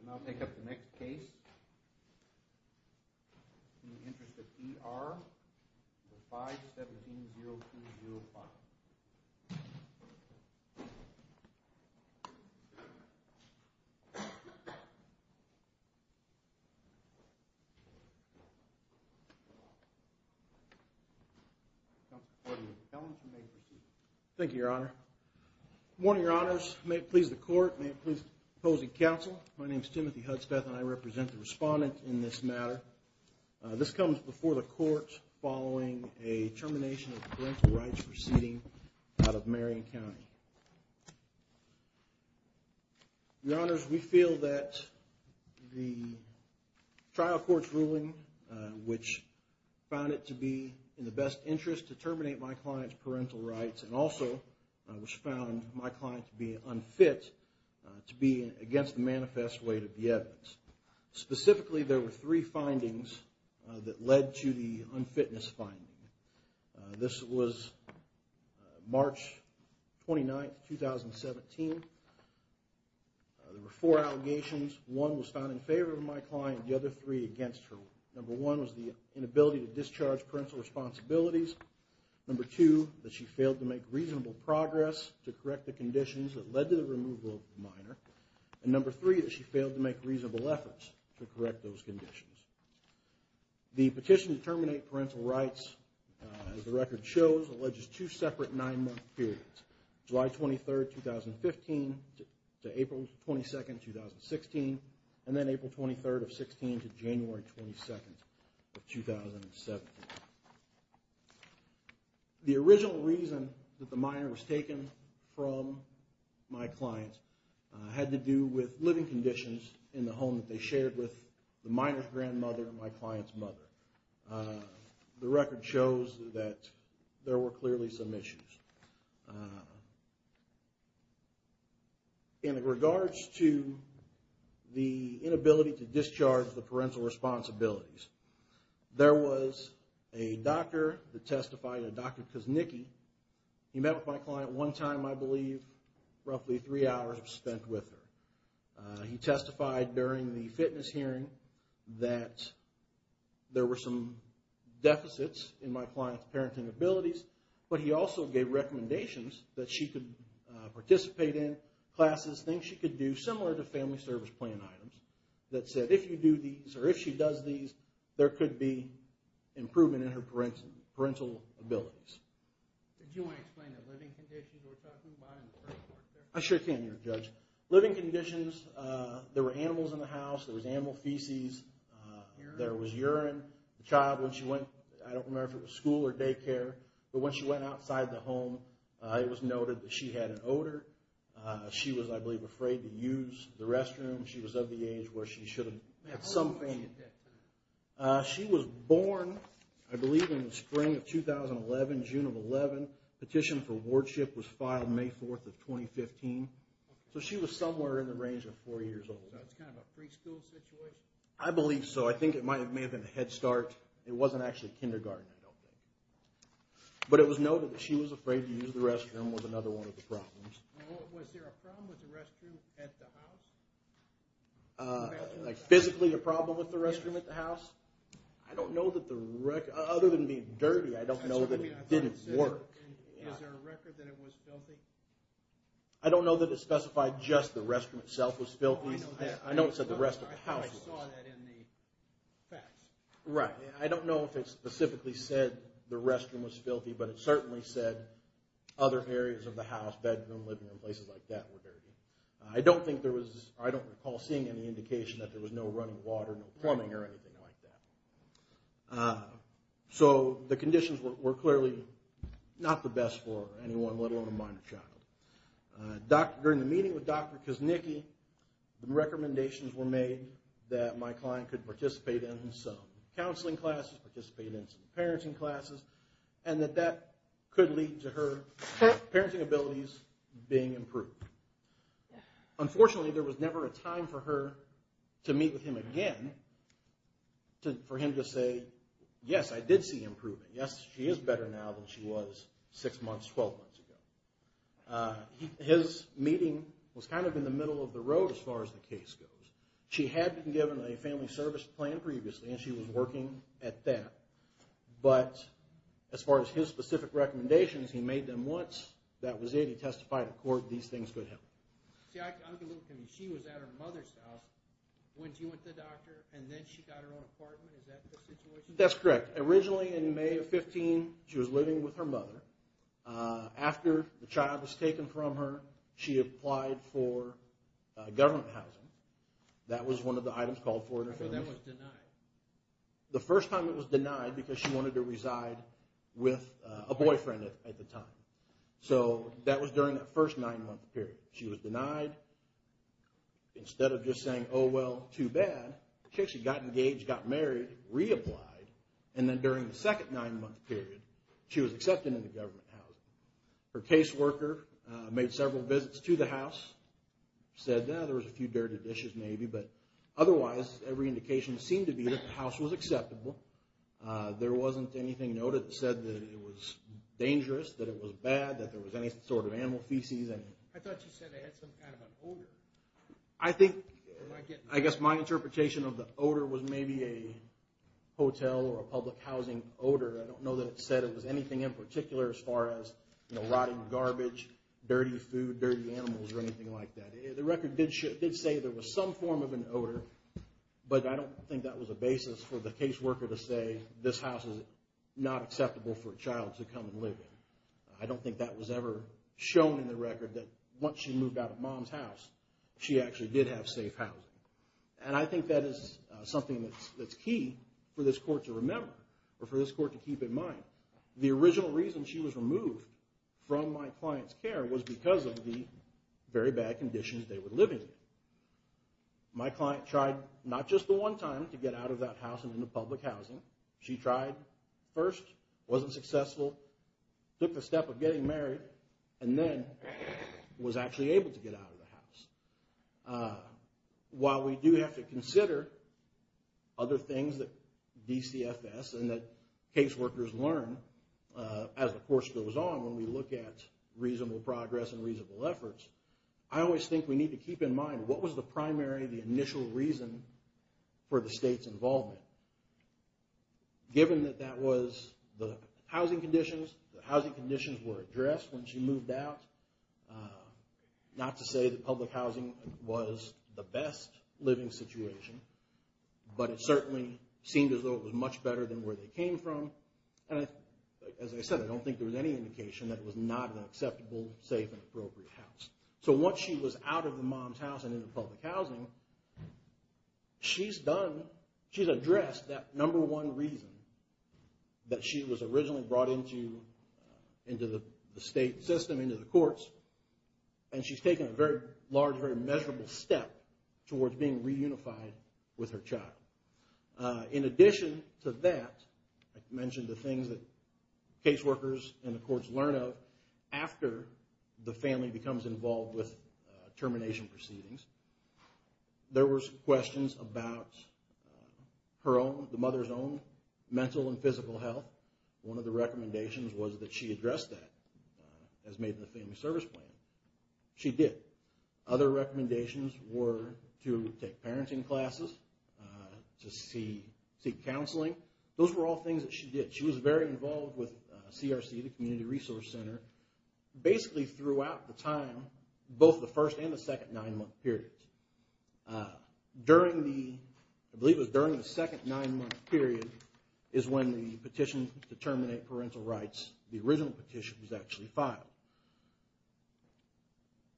And I'll take up the next case, In Interest of D.R., 5-17-0205. Thank you, Your Honor. Good morning, Your Honors. May it please the Court, may it please the opposing counsel, my name is Timothy Hudspeth and I represent the respondent in this matter. This comes before the Court following a termination of parental rights proceeding out of Marion County. Your Honors, we feel that the trial court's ruling, which found it to be in the best interest to terminate my client's parental rights and also which found my client to be unfit to be against the manifest weight of the evidence. Specifically, there were three findings that led to the unfitness finding. This was March 29, 2017. There were four allegations. One was found in favor of my client, the other three against her. Number one was the inability to discharge parental responsibilities. Number two, that she failed to make reasonable progress to correct the conditions that led to the removal of the minor. And number three, that she failed to make reasonable efforts to correct those conditions. The petition to terminate parental rights, as the record shows, alleges two separate nine-month periods, July 23, 2015 to April 22, 2016, and then April 23, 2016 to January 22, 2017. The original reason that the minor was taken from my client had to do with living conditions in the home that they shared with the minor's grandmother and my client's mother. The record shows that there were clearly some issues. In regards to the inability to discharge the parental responsibilities, there was a doctor that testified, a Dr. Kuznicki. He met with my client one time, I believe, roughly three hours was spent with her. He testified during the fitness hearing that there were some deficits in my client's parenting abilities, but he also gave recommendations that she could participate in classes, things she could do, similar to family service plan items, that said if you do these, or if she does these, there could be improvement in her parental abilities. Did you want to explain the living conditions we're talking about in the first part there? I sure can, Judge. Living conditions, there were animals in the house. There was animal feces. Urine? There was urine. The child, when she went, I don't remember if it was school or daycare, but when she went outside the home, it was noted that she had an odor. She was, I believe, afraid to use the restroom. She was of the age where she should have had some fainting. She was born, I believe, in the spring of 2011, June of 11. Petition for wardship was filed May 4th of 2015. So she was somewhere in the range of four years old. So it's kind of a preschool situation? I believe so. I think it may have been a head start. It wasn't actually kindergarten, I don't think. But it was noted that she was afraid to use the restroom was another one of the problems. Was there a problem with the restroom at the house? Like physically a problem with the restroom at the house? I don't know that the record, other than being dirty, I don't know that it didn't work. Is there a record that it was filthy? I don't know that it specified just the restroom itself was filthy. I know it said the rest of the house was. I thought I saw that in the facts. Right. I don't know if it specifically said the restroom was filthy, but it certainly said other areas of the house, bedroom, living room, places like that were dirty. I don't think there was, I don't recall seeing any indication that there was no running water, no plumbing or anything like that. So the conditions were clearly not the best for anyone, let alone a minor child. During the meeting with Dr. Kuznicki, recommendations were made that my client could participate in some counseling classes, participate in some parenting classes, and that that could lead to her parenting abilities being improved. Unfortunately, there was never a time for her to meet with him again for him to say, yes, I did see improvement. Yes, she is better now than she was six months, 12 months ago. His meeting was kind of in the middle of the road as far as the case goes. She had been given a family service plan previously, and she was working at that. But as far as his specific recommendations, he made them once. That was it. He testified in court. These things could happen. See, I'm a little confused. She was at her mother's house. When she went to the doctor, and then she got her own apartment. Is that the situation? That's correct. Originally in May of 15, she was living with her mother. After the child was taken from her, she applied for government housing. That was one of the items called for in her family. So that was denied. The first time it was denied because she wanted to reside with a boyfriend at the time. So that was during that first nine-month period. She was denied. Instead of just saying, oh, well, too bad, she actually got engaged, got married, reapplied. And then during the second nine-month period, she was accepted into government housing. Her caseworker made several visits to the house, said, yeah, there was a few dirty dishes maybe. But otherwise, every indication seemed to be that the house was acceptable. There wasn't anything noted that said that it was dangerous, that it was bad, that there was any sort of animal feces. I thought you said it had some kind of an odor. I think, I guess my interpretation of the odor was maybe a hotel or a public housing odor. I don't know that it said it was anything in particular as far as, you know, rotting garbage, dirty food, dirty animals, or anything like that. The record did say there was some form of an odor, but I don't think that was a basis for the caseworker to say, this house is not acceptable for a child to come and live in. I don't think that was ever shown in the record that once she moved out of Mom's house, she actually did have safe housing. And I think that is something that's key for this court to remember or for this court to keep in mind. The original reason she was removed from my client's care was because of the very bad conditions they were living in. My client tried not just the one time to get out of that house and into public housing. She tried first, wasn't successful, took the step of getting married, and then was actually able to get out of the house. While we do have to consider other things that DCFS and that caseworkers learn as the course goes on when we look at reasonable progress and reasonable efforts, I always think we need to keep in mind what was the primary, the initial reason for the state's involvement. Given that that was the housing conditions, the housing conditions were addressed when she moved out, not to say that public housing was the best living situation, but it certainly seemed as though it was much better than where they came from. And as I said, I don't think there was any indication that it was not an acceptable, safe, and appropriate house. So once she was out of Mom's house and into public housing, she's addressed that number one reason that she was originally brought into the state system, into the courts, and she's taken a very large, very measurable step towards being reunified with her child. In addition to that, I mentioned the things that caseworkers and the courts learn of after the family becomes involved with termination proceedings. There was questions about her own, the mother's own mental and physical health. One of the recommendations was that she address that, as made in the Family Service Plan. She did. Other recommendations were to take parenting classes, to seek counseling. Those were all things that she did. She was very involved with CRC, the Community Resource Center, basically throughout the time, both the first and the second nine-month period. During the, I believe it was during the second nine-month period, is when the petition to terminate parental rights, the original petition was actually filed.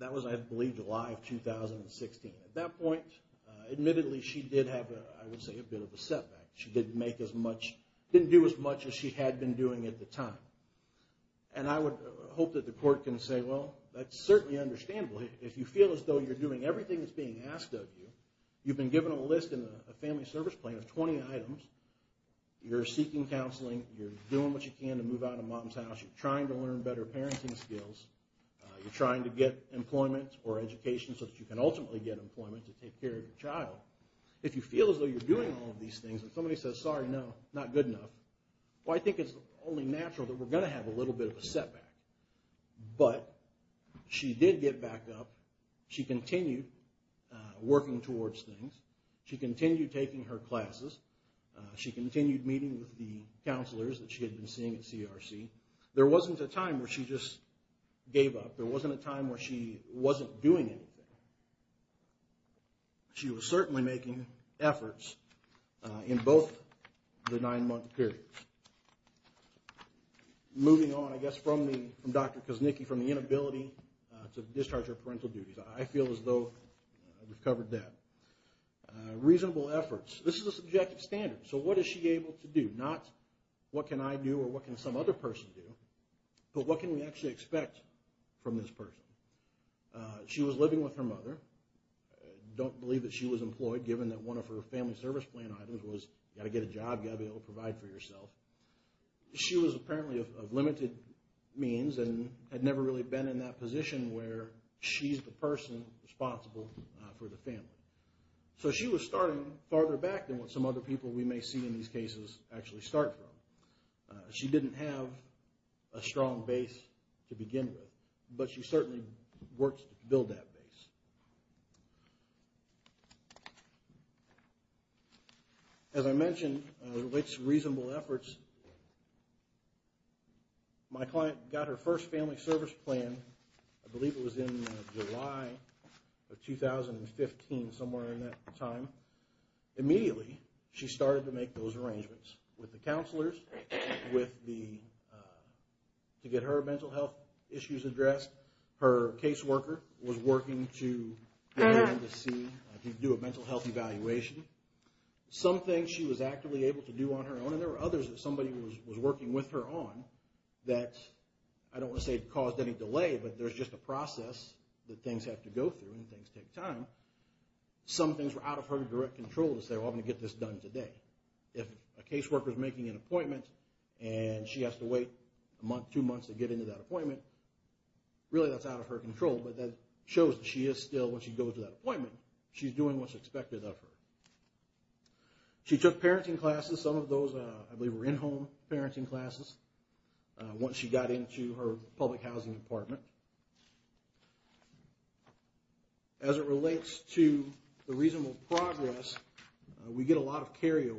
That was, I believe, July of 2016. At that point, admittedly, she did have, I would say, a bit of a setback. She didn't do as much as she had been doing at the time. And I would hope that the court can say, well, that's certainly understandable. If you feel as though you're doing everything that's being asked of you, you've been given a list in the Family Service Plan of 20 items. You're seeking counseling. You're doing what you can to move out of mom's house. You're trying to learn better parenting skills. You're trying to get employment or education so that you can ultimately get employment to take care of your child. If you feel as though you're doing all of these things, and somebody says, sorry, no, not good enough, well, I think it's only natural that we're going to have a little bit of a setback. But she did get back up. She continued working towards things. She continued taking her classes. She continued meeting with the counselors that she had been seeing at CRC. There wasn't a time where she just gave up. There wasn't a time where she wasn't doing anything. She was certainly making efforts in both the nine-month periods. Moving on, I guess, from Dr. Kuznicki, from the inability to discharge her parental duties. I feel as though we've covered that. Reasonable efforts. This is a subjective standard. So what is she able to do? Not what can I do or what can some other person do, but what can we actually expect from this person? She was living with her mother. I don't believe that she was employed, given that one of her Family Service Plan items was you've got to get a job, you've got to be able to provide for yourself. She was apparently of limited means and had never really been in that position where she's the person responsible for the family. So she was starting farther back than what some other people we may see in these cases actually start from. She didn't have a strong base to begin with, but she certainly worked to build that base. As I mentioned, it relates to reasonable efforts. My client got her first Family Service Plan, I believe it was in July of 2015, somewhere in that time. Immediately, she started to make those arrangements with the counselors, to get her mental health issues addressed. Her caseworker was working, she was working with her family. She was able to do a mental health evaluation. Some things she was actively able to do on her own, and there were others that somebody was working with her on, that I don't want to say caused any delay, but there's just a process that things have to go through and things take time. Some things were out of her direct control to say, well, I'm going to get this done today. If a caseworker's making an appointment and she has to wait a month, two months to get into that appointment, really that's out of her control, but that shows that she is still, when she goes to that appointment, she's doing what's expected of her. She took parenting classes, some of those I believe were in-home parenting classes, once she got into her public housing apartment. As it relates to the reasonable progress, we get a lot of carryover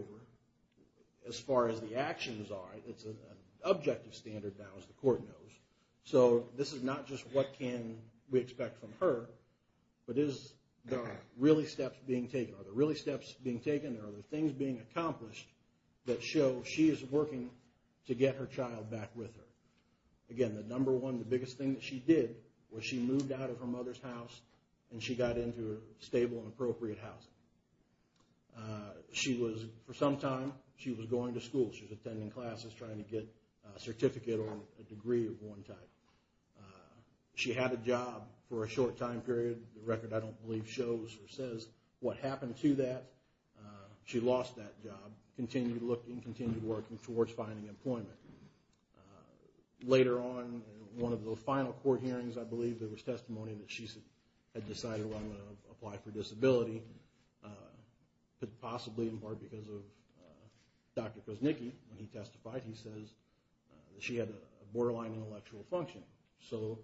as far as the actions are. It's an objective standard now, as the court knows. This is not just what can we expect from her, but are there really steps being taken? Are there really steps being taken? Are there things being accomplished that show she is working to get her child back with her? Again, the number one, the biggest thing that she did was she moved out of her mother's house and she got into stable and appropriate housing. For some time, she was going to school. She was attending classes, trying to get a certificate or a degree of one type. She had a job for a short time period. The record, I don't believe, shows or says what happened to that. She lost that job, continued looking, continued working towards finding employment. Later on, one of the final court hearings, I believe, there was testimony that she had decided, well, I'm going to apply for disability, but possibly in part because of Dr. Krasnicki. When he testified, he says that she had a borderline intellectual function. So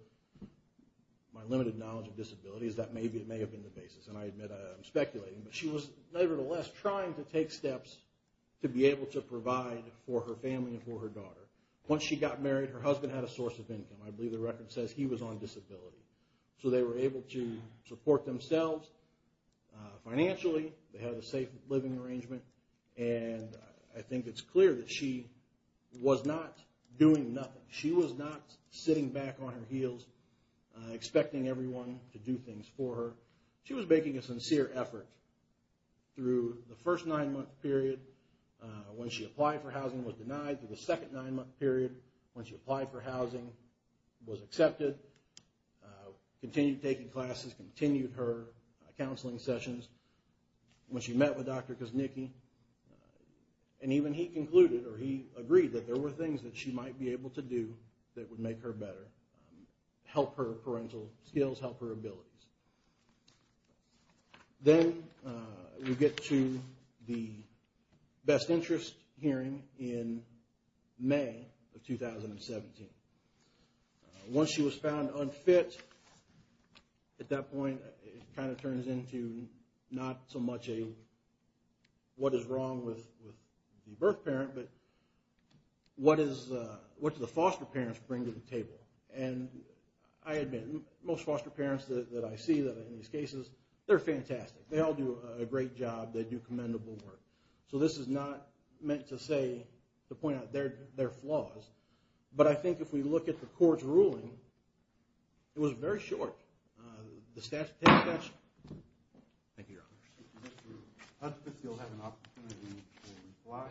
my limited knowledge of disability is that maybe it may have been the basis. I admit I'm speculating, but she was nevertheless trying to take steps to be able to provide for her family and for her daughter. Once she got married, her husband had a source of income. I believe the record says he was on disability. So they were able to support themselves financially. They had a safe living arrangement. And I think it's clear that she was not doing nothing. She was not sitting back on her heels, expecting everyone to do things for her. She was making a sincere effort through the first nine-month period when she applied for housing and was denied, through the second nine-month period when she applied for housing and was accepted. Continued taking classes, continued her counseling sessions. When she met with Dr. Krasnicki, and even he concluded or he agreed that there were things that she might be able to do that would make her better, help her parental skills, help her abilities. Then we get to the best interest hearing in May of 2017. Once she was found unfit, at that point it kind of turns into not so much a what is wrong with the birth parent, but what do the foster parents bring to the table? And I admit, most foster parents that I see in these cases, they're fantastic. They all do a great job. They do commendable work. So this is not meant to point out their flaws. But I think if we look at the court's ruling, it was very short. The statute… Thank you, Your Honor. Mr. Hudspeth, you'll have an opportunity to reply.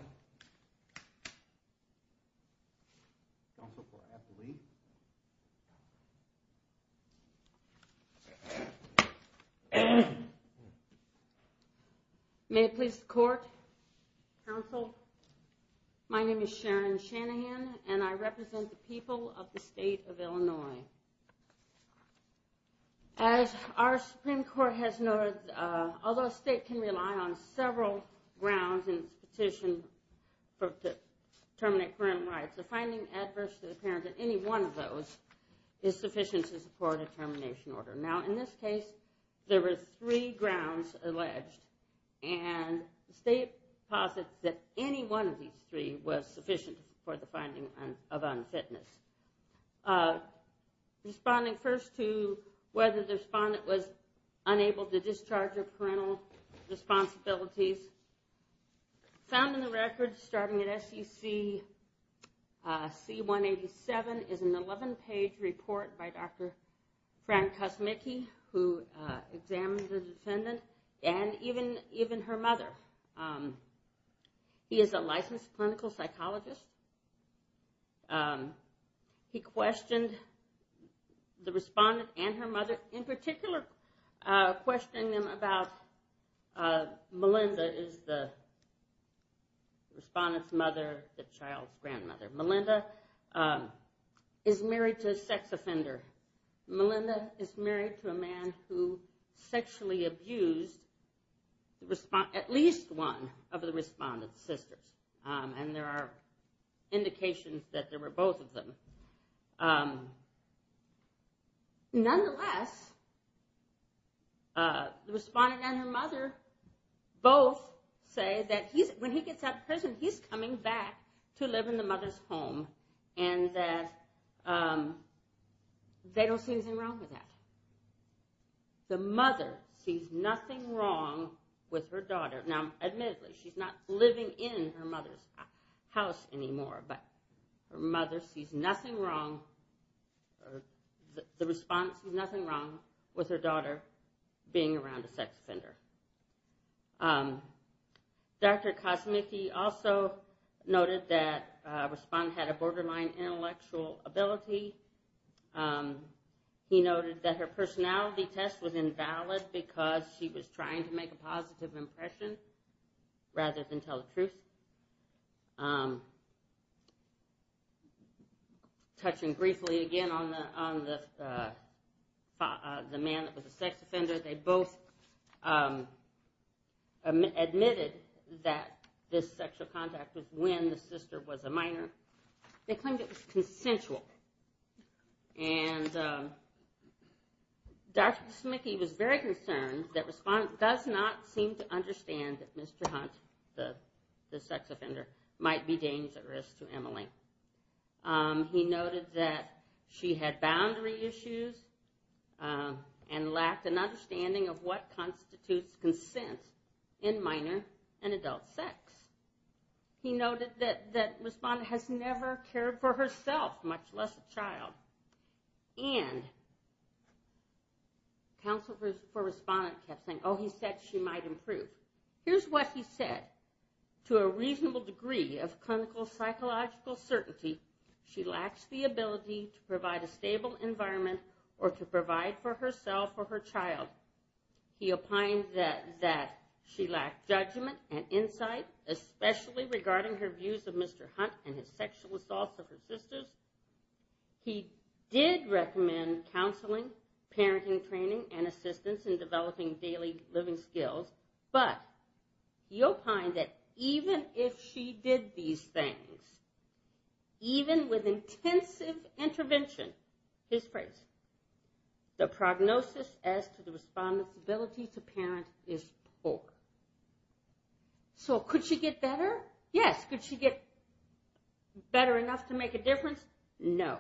May it please the court, counsel. My name is Sharon Shanahan, and I represent the people of the state of Illinois. As our Supreme Court has noted, although a state can rely on several grounds in its petition to terminate parent rights, the finding adverse to the parents of any one of those is sufficient to support a termination order. Now, in this case, there were three grounds alleged, and the state posits that any one of these three was sufficient for the finding of unfitness. Responding first to whether the respondent was unable to discharge their parental responsibilities, found in the records starting at SEC C-187 is an 11-page report by Dr. Frank Kosmicki, who examined the defendant and even her mother. He is a licensed clinical psychologist. He questioned the respondent and her mother, in particular questioning them about Melinda, the respondent's mother, the child's grandmother. Melinda is married to a sex offender. Melinda is married to a man who sexually abused at least one of the respondent's sisters, and there are indications that there were both of them. Nonetheless, the respondent and her mother both say that when he gets out of prison, he's coming back to live in the mother's home, and that they don't see anything wrong with that. The mother sees nothing wrong with her daughter. Now, admittedly, she's not living in her mother's house anymore, but the respondent sees nothing wrong with her daughter being around a sex offender. Dr. Kosmicki also noted that the respondent had a borderline intellectual ability. He noted that her personality test was invalid because she was trying to make a positive impression rather than tell the truth. Touching briefly again on the man that was a sex offender, they both admitted that this sexual contact was when the sister was a minor. They claimed it was consensual, and Dr. Kosmicki was very concerned that the respondent does not seem to understand that Mr. Hunt, the sex offender, might be dangerous to Emily. He noted that she had boundary issues and lacked an understanding of what constitutes consent in minor and adult sex. He noted that the respondent has never cared for herself, much less a child. And counsel for the respondent kept saying, oh, he said she might improve. Here's what he said. To a reasonable degree of clinical psychological certainty, she lacks the ability to provide a stable environment or to provide for herself or her child. He opined that she lacked judgment and insight, especially regarding her views of Mr. Hunt and his sexual assaults of her sisters. He did recommend counseling, parenting training, and assistance in developing daily living skills, but he opined that even if she did these things, even with intensive intervention, his praise, the prognosis as to the respondent's ability to parent is poor. So could she get better? Yes. Could she get better enough to make a difference? No.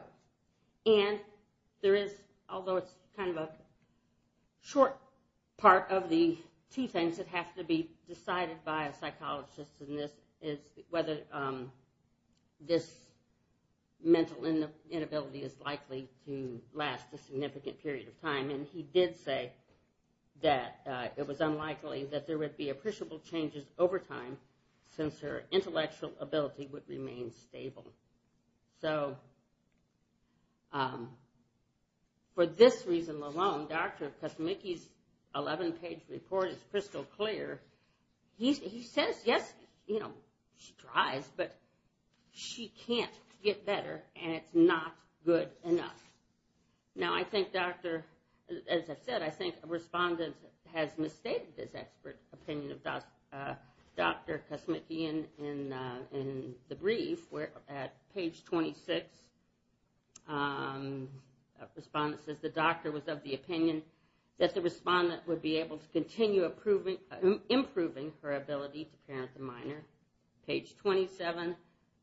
And there is, although it's kind of a short part of the two things that have to be decided by a psychologist in this, is whether this mental inability is likely to last a significant period of time. And he did say that it was unlikely that there would be appreciable changes over time since her intellectual ability would remain stable. So for this reason alone, Dr. Kosmicki's 11-page report is crystal clear. He says, yes, you know, she tries, but she can't get better, and it's not good enough. Now, I think, as I've said, I think a respondent has misstated this expert opinion of Dr. Kosmicki in the brief where at page 26, a respondent says the doctor was of the opinion that the respondent would be able to continue improving her ability to parent the minor. Page 27,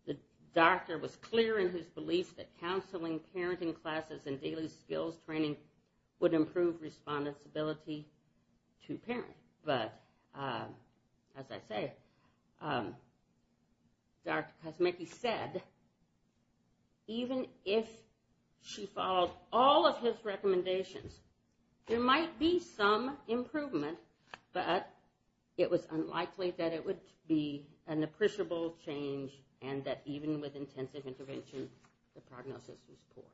the doctor was clear in his belief that counseling, parenting classes, and daily skills training would improve respondent's ability to parent. But as I say, Dr. Kosmicki said, even if she followed all of his recommendations, there might be some improvement, but it was unlikely that it would be an appreciable change and that even with intensive intervention, the prognosis was poor.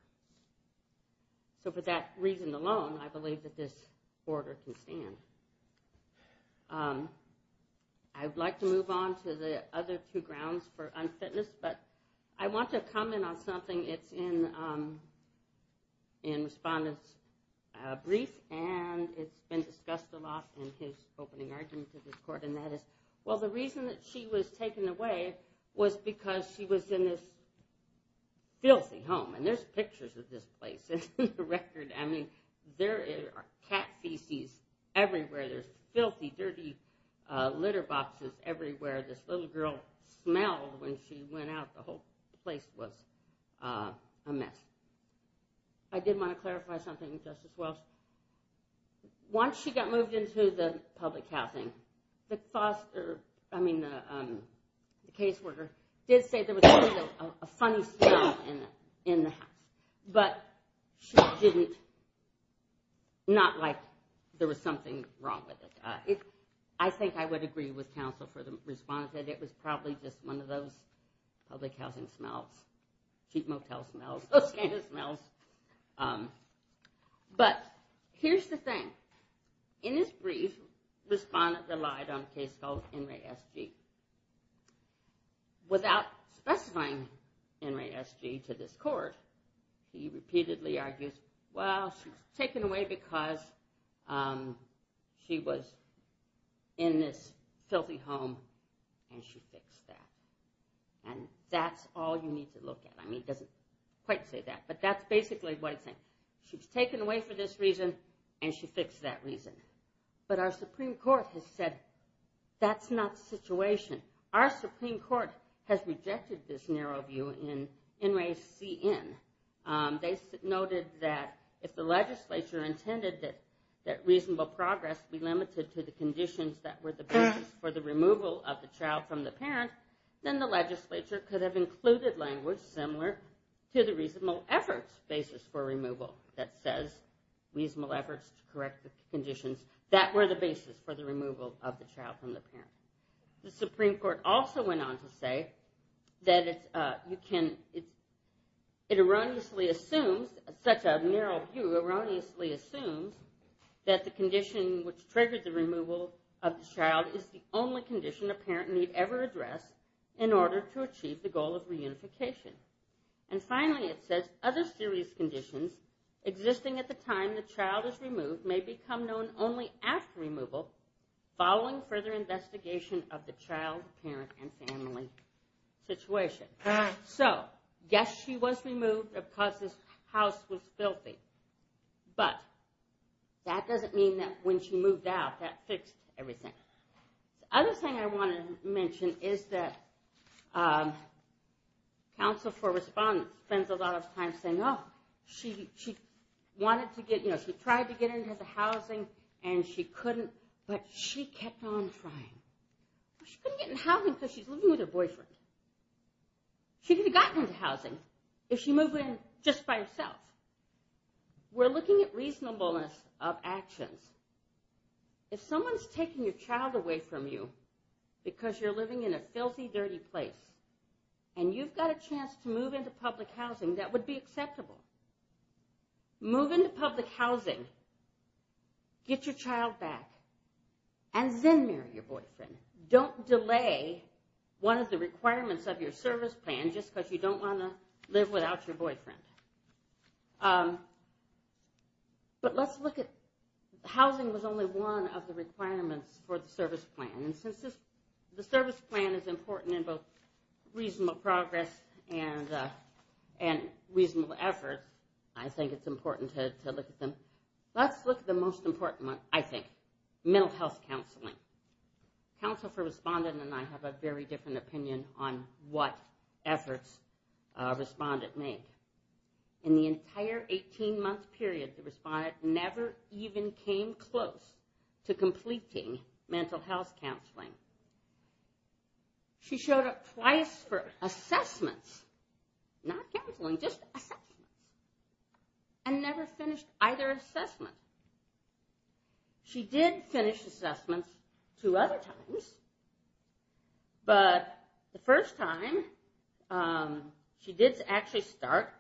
So for that reason alone, I believe that this order can stand. I would like to move on to the other two grounds for unfitness, but I want to comment on something. It's in the respondent's brief, and it's been discussed a lot in his opening argument to this court, and that is, well, the reason that she was taken away was because she was in this filthy home. And there's pictures of this place in the record. I mean, there are cat feces everywhere. There's filthy, dirty litter boxes everywhere. This little girl smelled when she went out. The whole place was a mess. I did want to clarify something, Justice Welch. Once she got moved into the public housing, the caseworker did say there was a funny smell in the house, but she didn't, not like there was something wrong with it. I think I would agree with counsel for the respondent that it was probably just one of those public housing smells, cheap motel smells, those kind of smells. But here's the thing. In his brief, the respondent relied on a case called NRASG. Without specifying NRASG to this court, he repeatedly argues, well, she was taken away because she was in this filthy home, and she fixed that. And that's all you need to look at. I mean, he doesn't quite say that, but that's basically what he's saying. She was taken away for this reason, and she fixed that reason. But our Supreme Court has said that's not the situation. Our Supreme Court has rejected this narrow view in NRASCN. They noted that if the legislature intended that reasonable progress be limited to the conditions that were the basis for the removal of the child from the parent, then the legislature could have included language similar to the reasonable efforts basis for removal that says reasonable efforts to correct the conditions that were the basis for the removal of the child from the parent. The Supreme Court also went on to say that it erroneously assumes, such a narrow view erroneously assumes that the condition which triggered the removal of the child is the only condition a parent need ever address in order to achieve the goal of reunification. And finally, it says other serious conditions existing at the time the child is removed may become known only after removal following further investigation of the child, parent, and family situation. So, yes, she was removed because this house was filthy. But that doesn't mean that when she moved out, that fixed everything. The other thing I want to mention is that Counsel for Respondents spends a lot of time saying, oh, she wanted to get, you know, she tried to get into housing and she couldn't, but she kept on trying. She couldn't get into housing because she's living with her boyfriend. She could have gotten into housing if she moved in just by herself. We're looking at reasonableness of actions. If someone's taking your child away from you because you're living in a filthy, dirty place and you've got a chance to move into public housing, that would be acceptable. Move into public housing, get your child back, and then marry your boyfriend. Don't delay one of the requirements of your service plan just because you don't want to live without your boyfriend. But let's look at housing was only one of the requirements for the service plan. And since the service plan is important in both reasonable progress and reasonable effort, I think it's important to look at them. Let's look at the most important one, I think, mental health counseling. Counsel for Respondent and I have a very different opinion on what efforts a respondent make. In the entire 18-month period, the respondent never even came close to completing mental health counseling. She showed up twice for assessments, not counseling, just assessments, and never finished either assessment. She did finish assessments two other times, but the first time she did actually start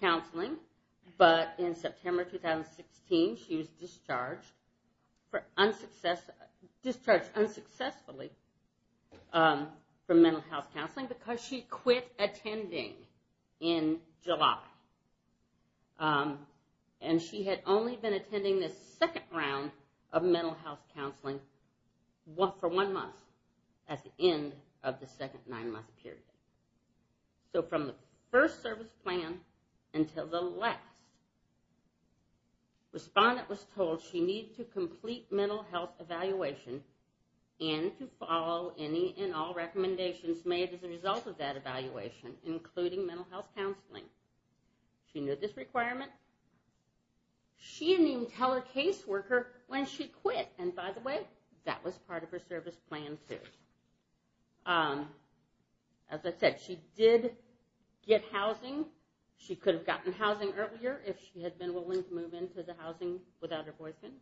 counseling, but in September 2016 she was discharged unsuccessfully from mental health counseling because she quit attending in July. And she had only been attending the second round of mental health counseling for one month at the end of the second nine-month period. So from the first service plan until the last, respondent was told she needed to complete mental health evaluation and to follow any and all recommendations made as a result of that evaluation, including mental health counseling. She knew this requirement. She didn't even tell her caseworker when she quit. And by the way, that was part of her service plan too. As I said, she did get housing. She could have gotten housing earlier if she had been willing to move into the housing without her boyfriend.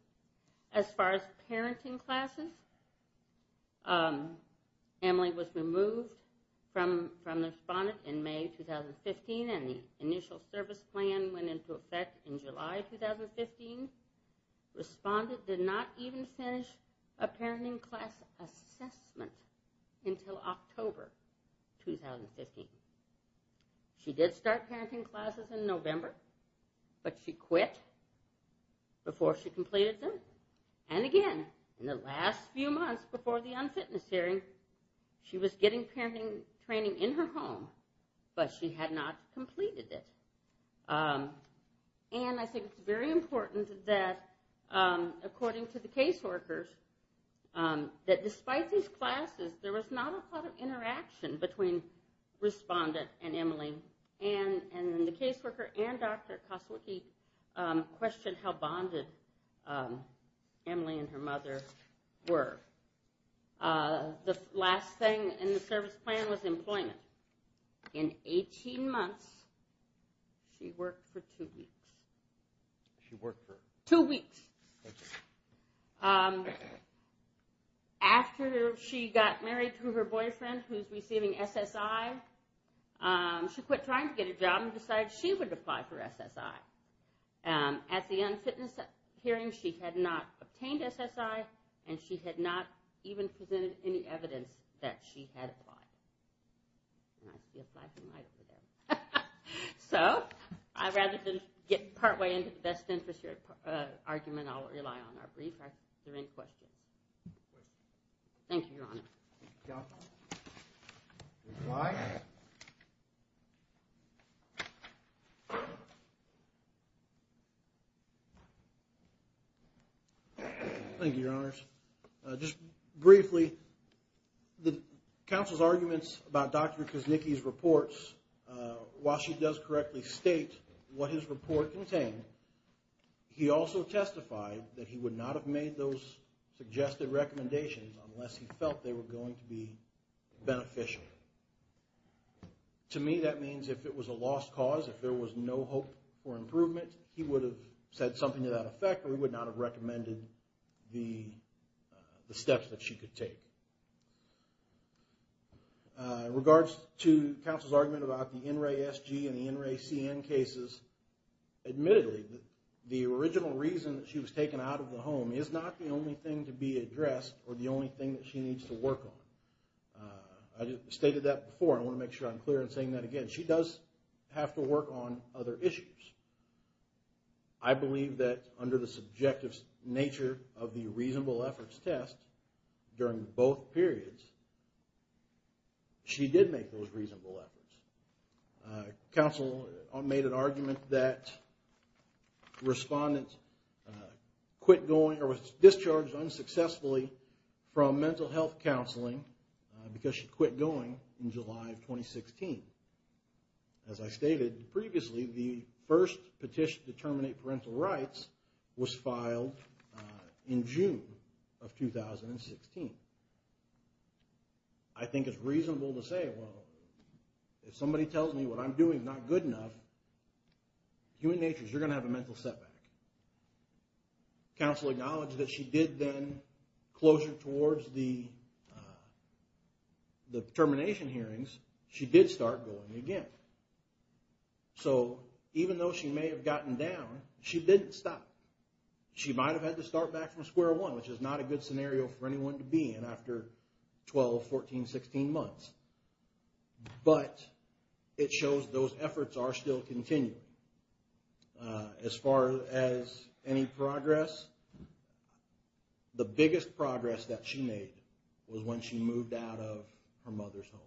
As far as parenting classes, Emily was removed from the respondent in May 2015, and the initial service plan went into effect in July 2015. Respondent did not even finish a parenting class assessment until October 2015. She did start parenting classes in November, but she quit before she completed them. And again, in the last few months before the unfitness hearing, she was getting parenting training in her home, but she had not completed it. And I think it's very important that, according to the caseworkers, that despite these classes, there was not a lot of interaction between respondent and Emily. And the caseworker and Dr. Koswicki questioned how bonded Emily and her mother were. The last thing in the service plan was employment. In 18 months, she worked for two weeks. She worked for two weeks. After she got married to her boyfriend, who's receiving SSI, she quit trying to get a job and decided she would apply for SSI. At the unfitness hearing, she had not obtained SSI, and she had not even presented any evidence that she had applied. And I see a flashing light over there. So, rather than get partway into the best interest argument, I'll rely on our brief. Are there any questions? Thank you, Your Honor. Thank you, Your Honors. Just briefly, the counsel's arguments about Dr. Koswicki's reports, while she does correctly state what his report contained, he also testified that he would not have made those suggested recommendations unless he felt they were going to be beneficial. To me, that means if it was a lost cause, if there was no hope for improvement, he would have said something to that effect, or he would not have recommended the steps that she could take. In regards to counsel's argument about the NRA SG and the NRA CN cases, admittedly, the original reason that she was taken out of the home is not the only thing to be addressed or the only thing that she needs to work on. I stated that before, and I want to make sure I'm clear in saying that again. She does have to work on other issues. I believe that under the subjective nature of the reasonable efforts test, during both periods, she did make those reasonable efforts. Counsel made an argument that the respondent was discharged unsuccessfully from mental health counseling because she quit going in July of 2016. As I stated previously, the first petition to terminate parental rights was filed in June of 2016. I think it's reasonable to say, well, if somebody tells me what I'm doing is not good enough, human nature is you're going to have a mental setback. Counsel acknowledged that she did then, closer towards the termination hearings, she did start going again. Even though she may have gotten down, she didn't stop. She might have had to start back from square one, which is not a good scenario for anyone to be in after 12, 14, 16 months. But it shows those efforts are still continuing. As far as any progress, the biggest progress that she made was when she moved out of her mother's home.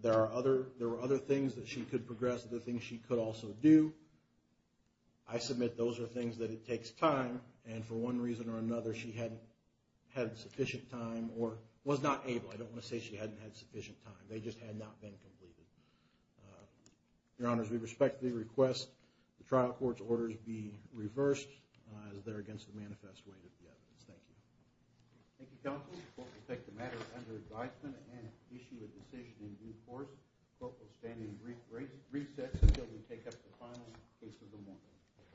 There were other things that she could progress, other things she could also do. I submit those are things that it takes time, and for one reason or another, she hadn't had sufficient time, or was not able. I don't want to say she hadn't had sufficient time. They just had not been completed. Your Honors, we respectfully request the trial court's orders be reversed as they're against the manifest weight of the evidence. Thank you. Thank you, Counsel. The court will take the matter under advisement and issue a decision in due course. The court will stand in recess until we take up the final case of the morning.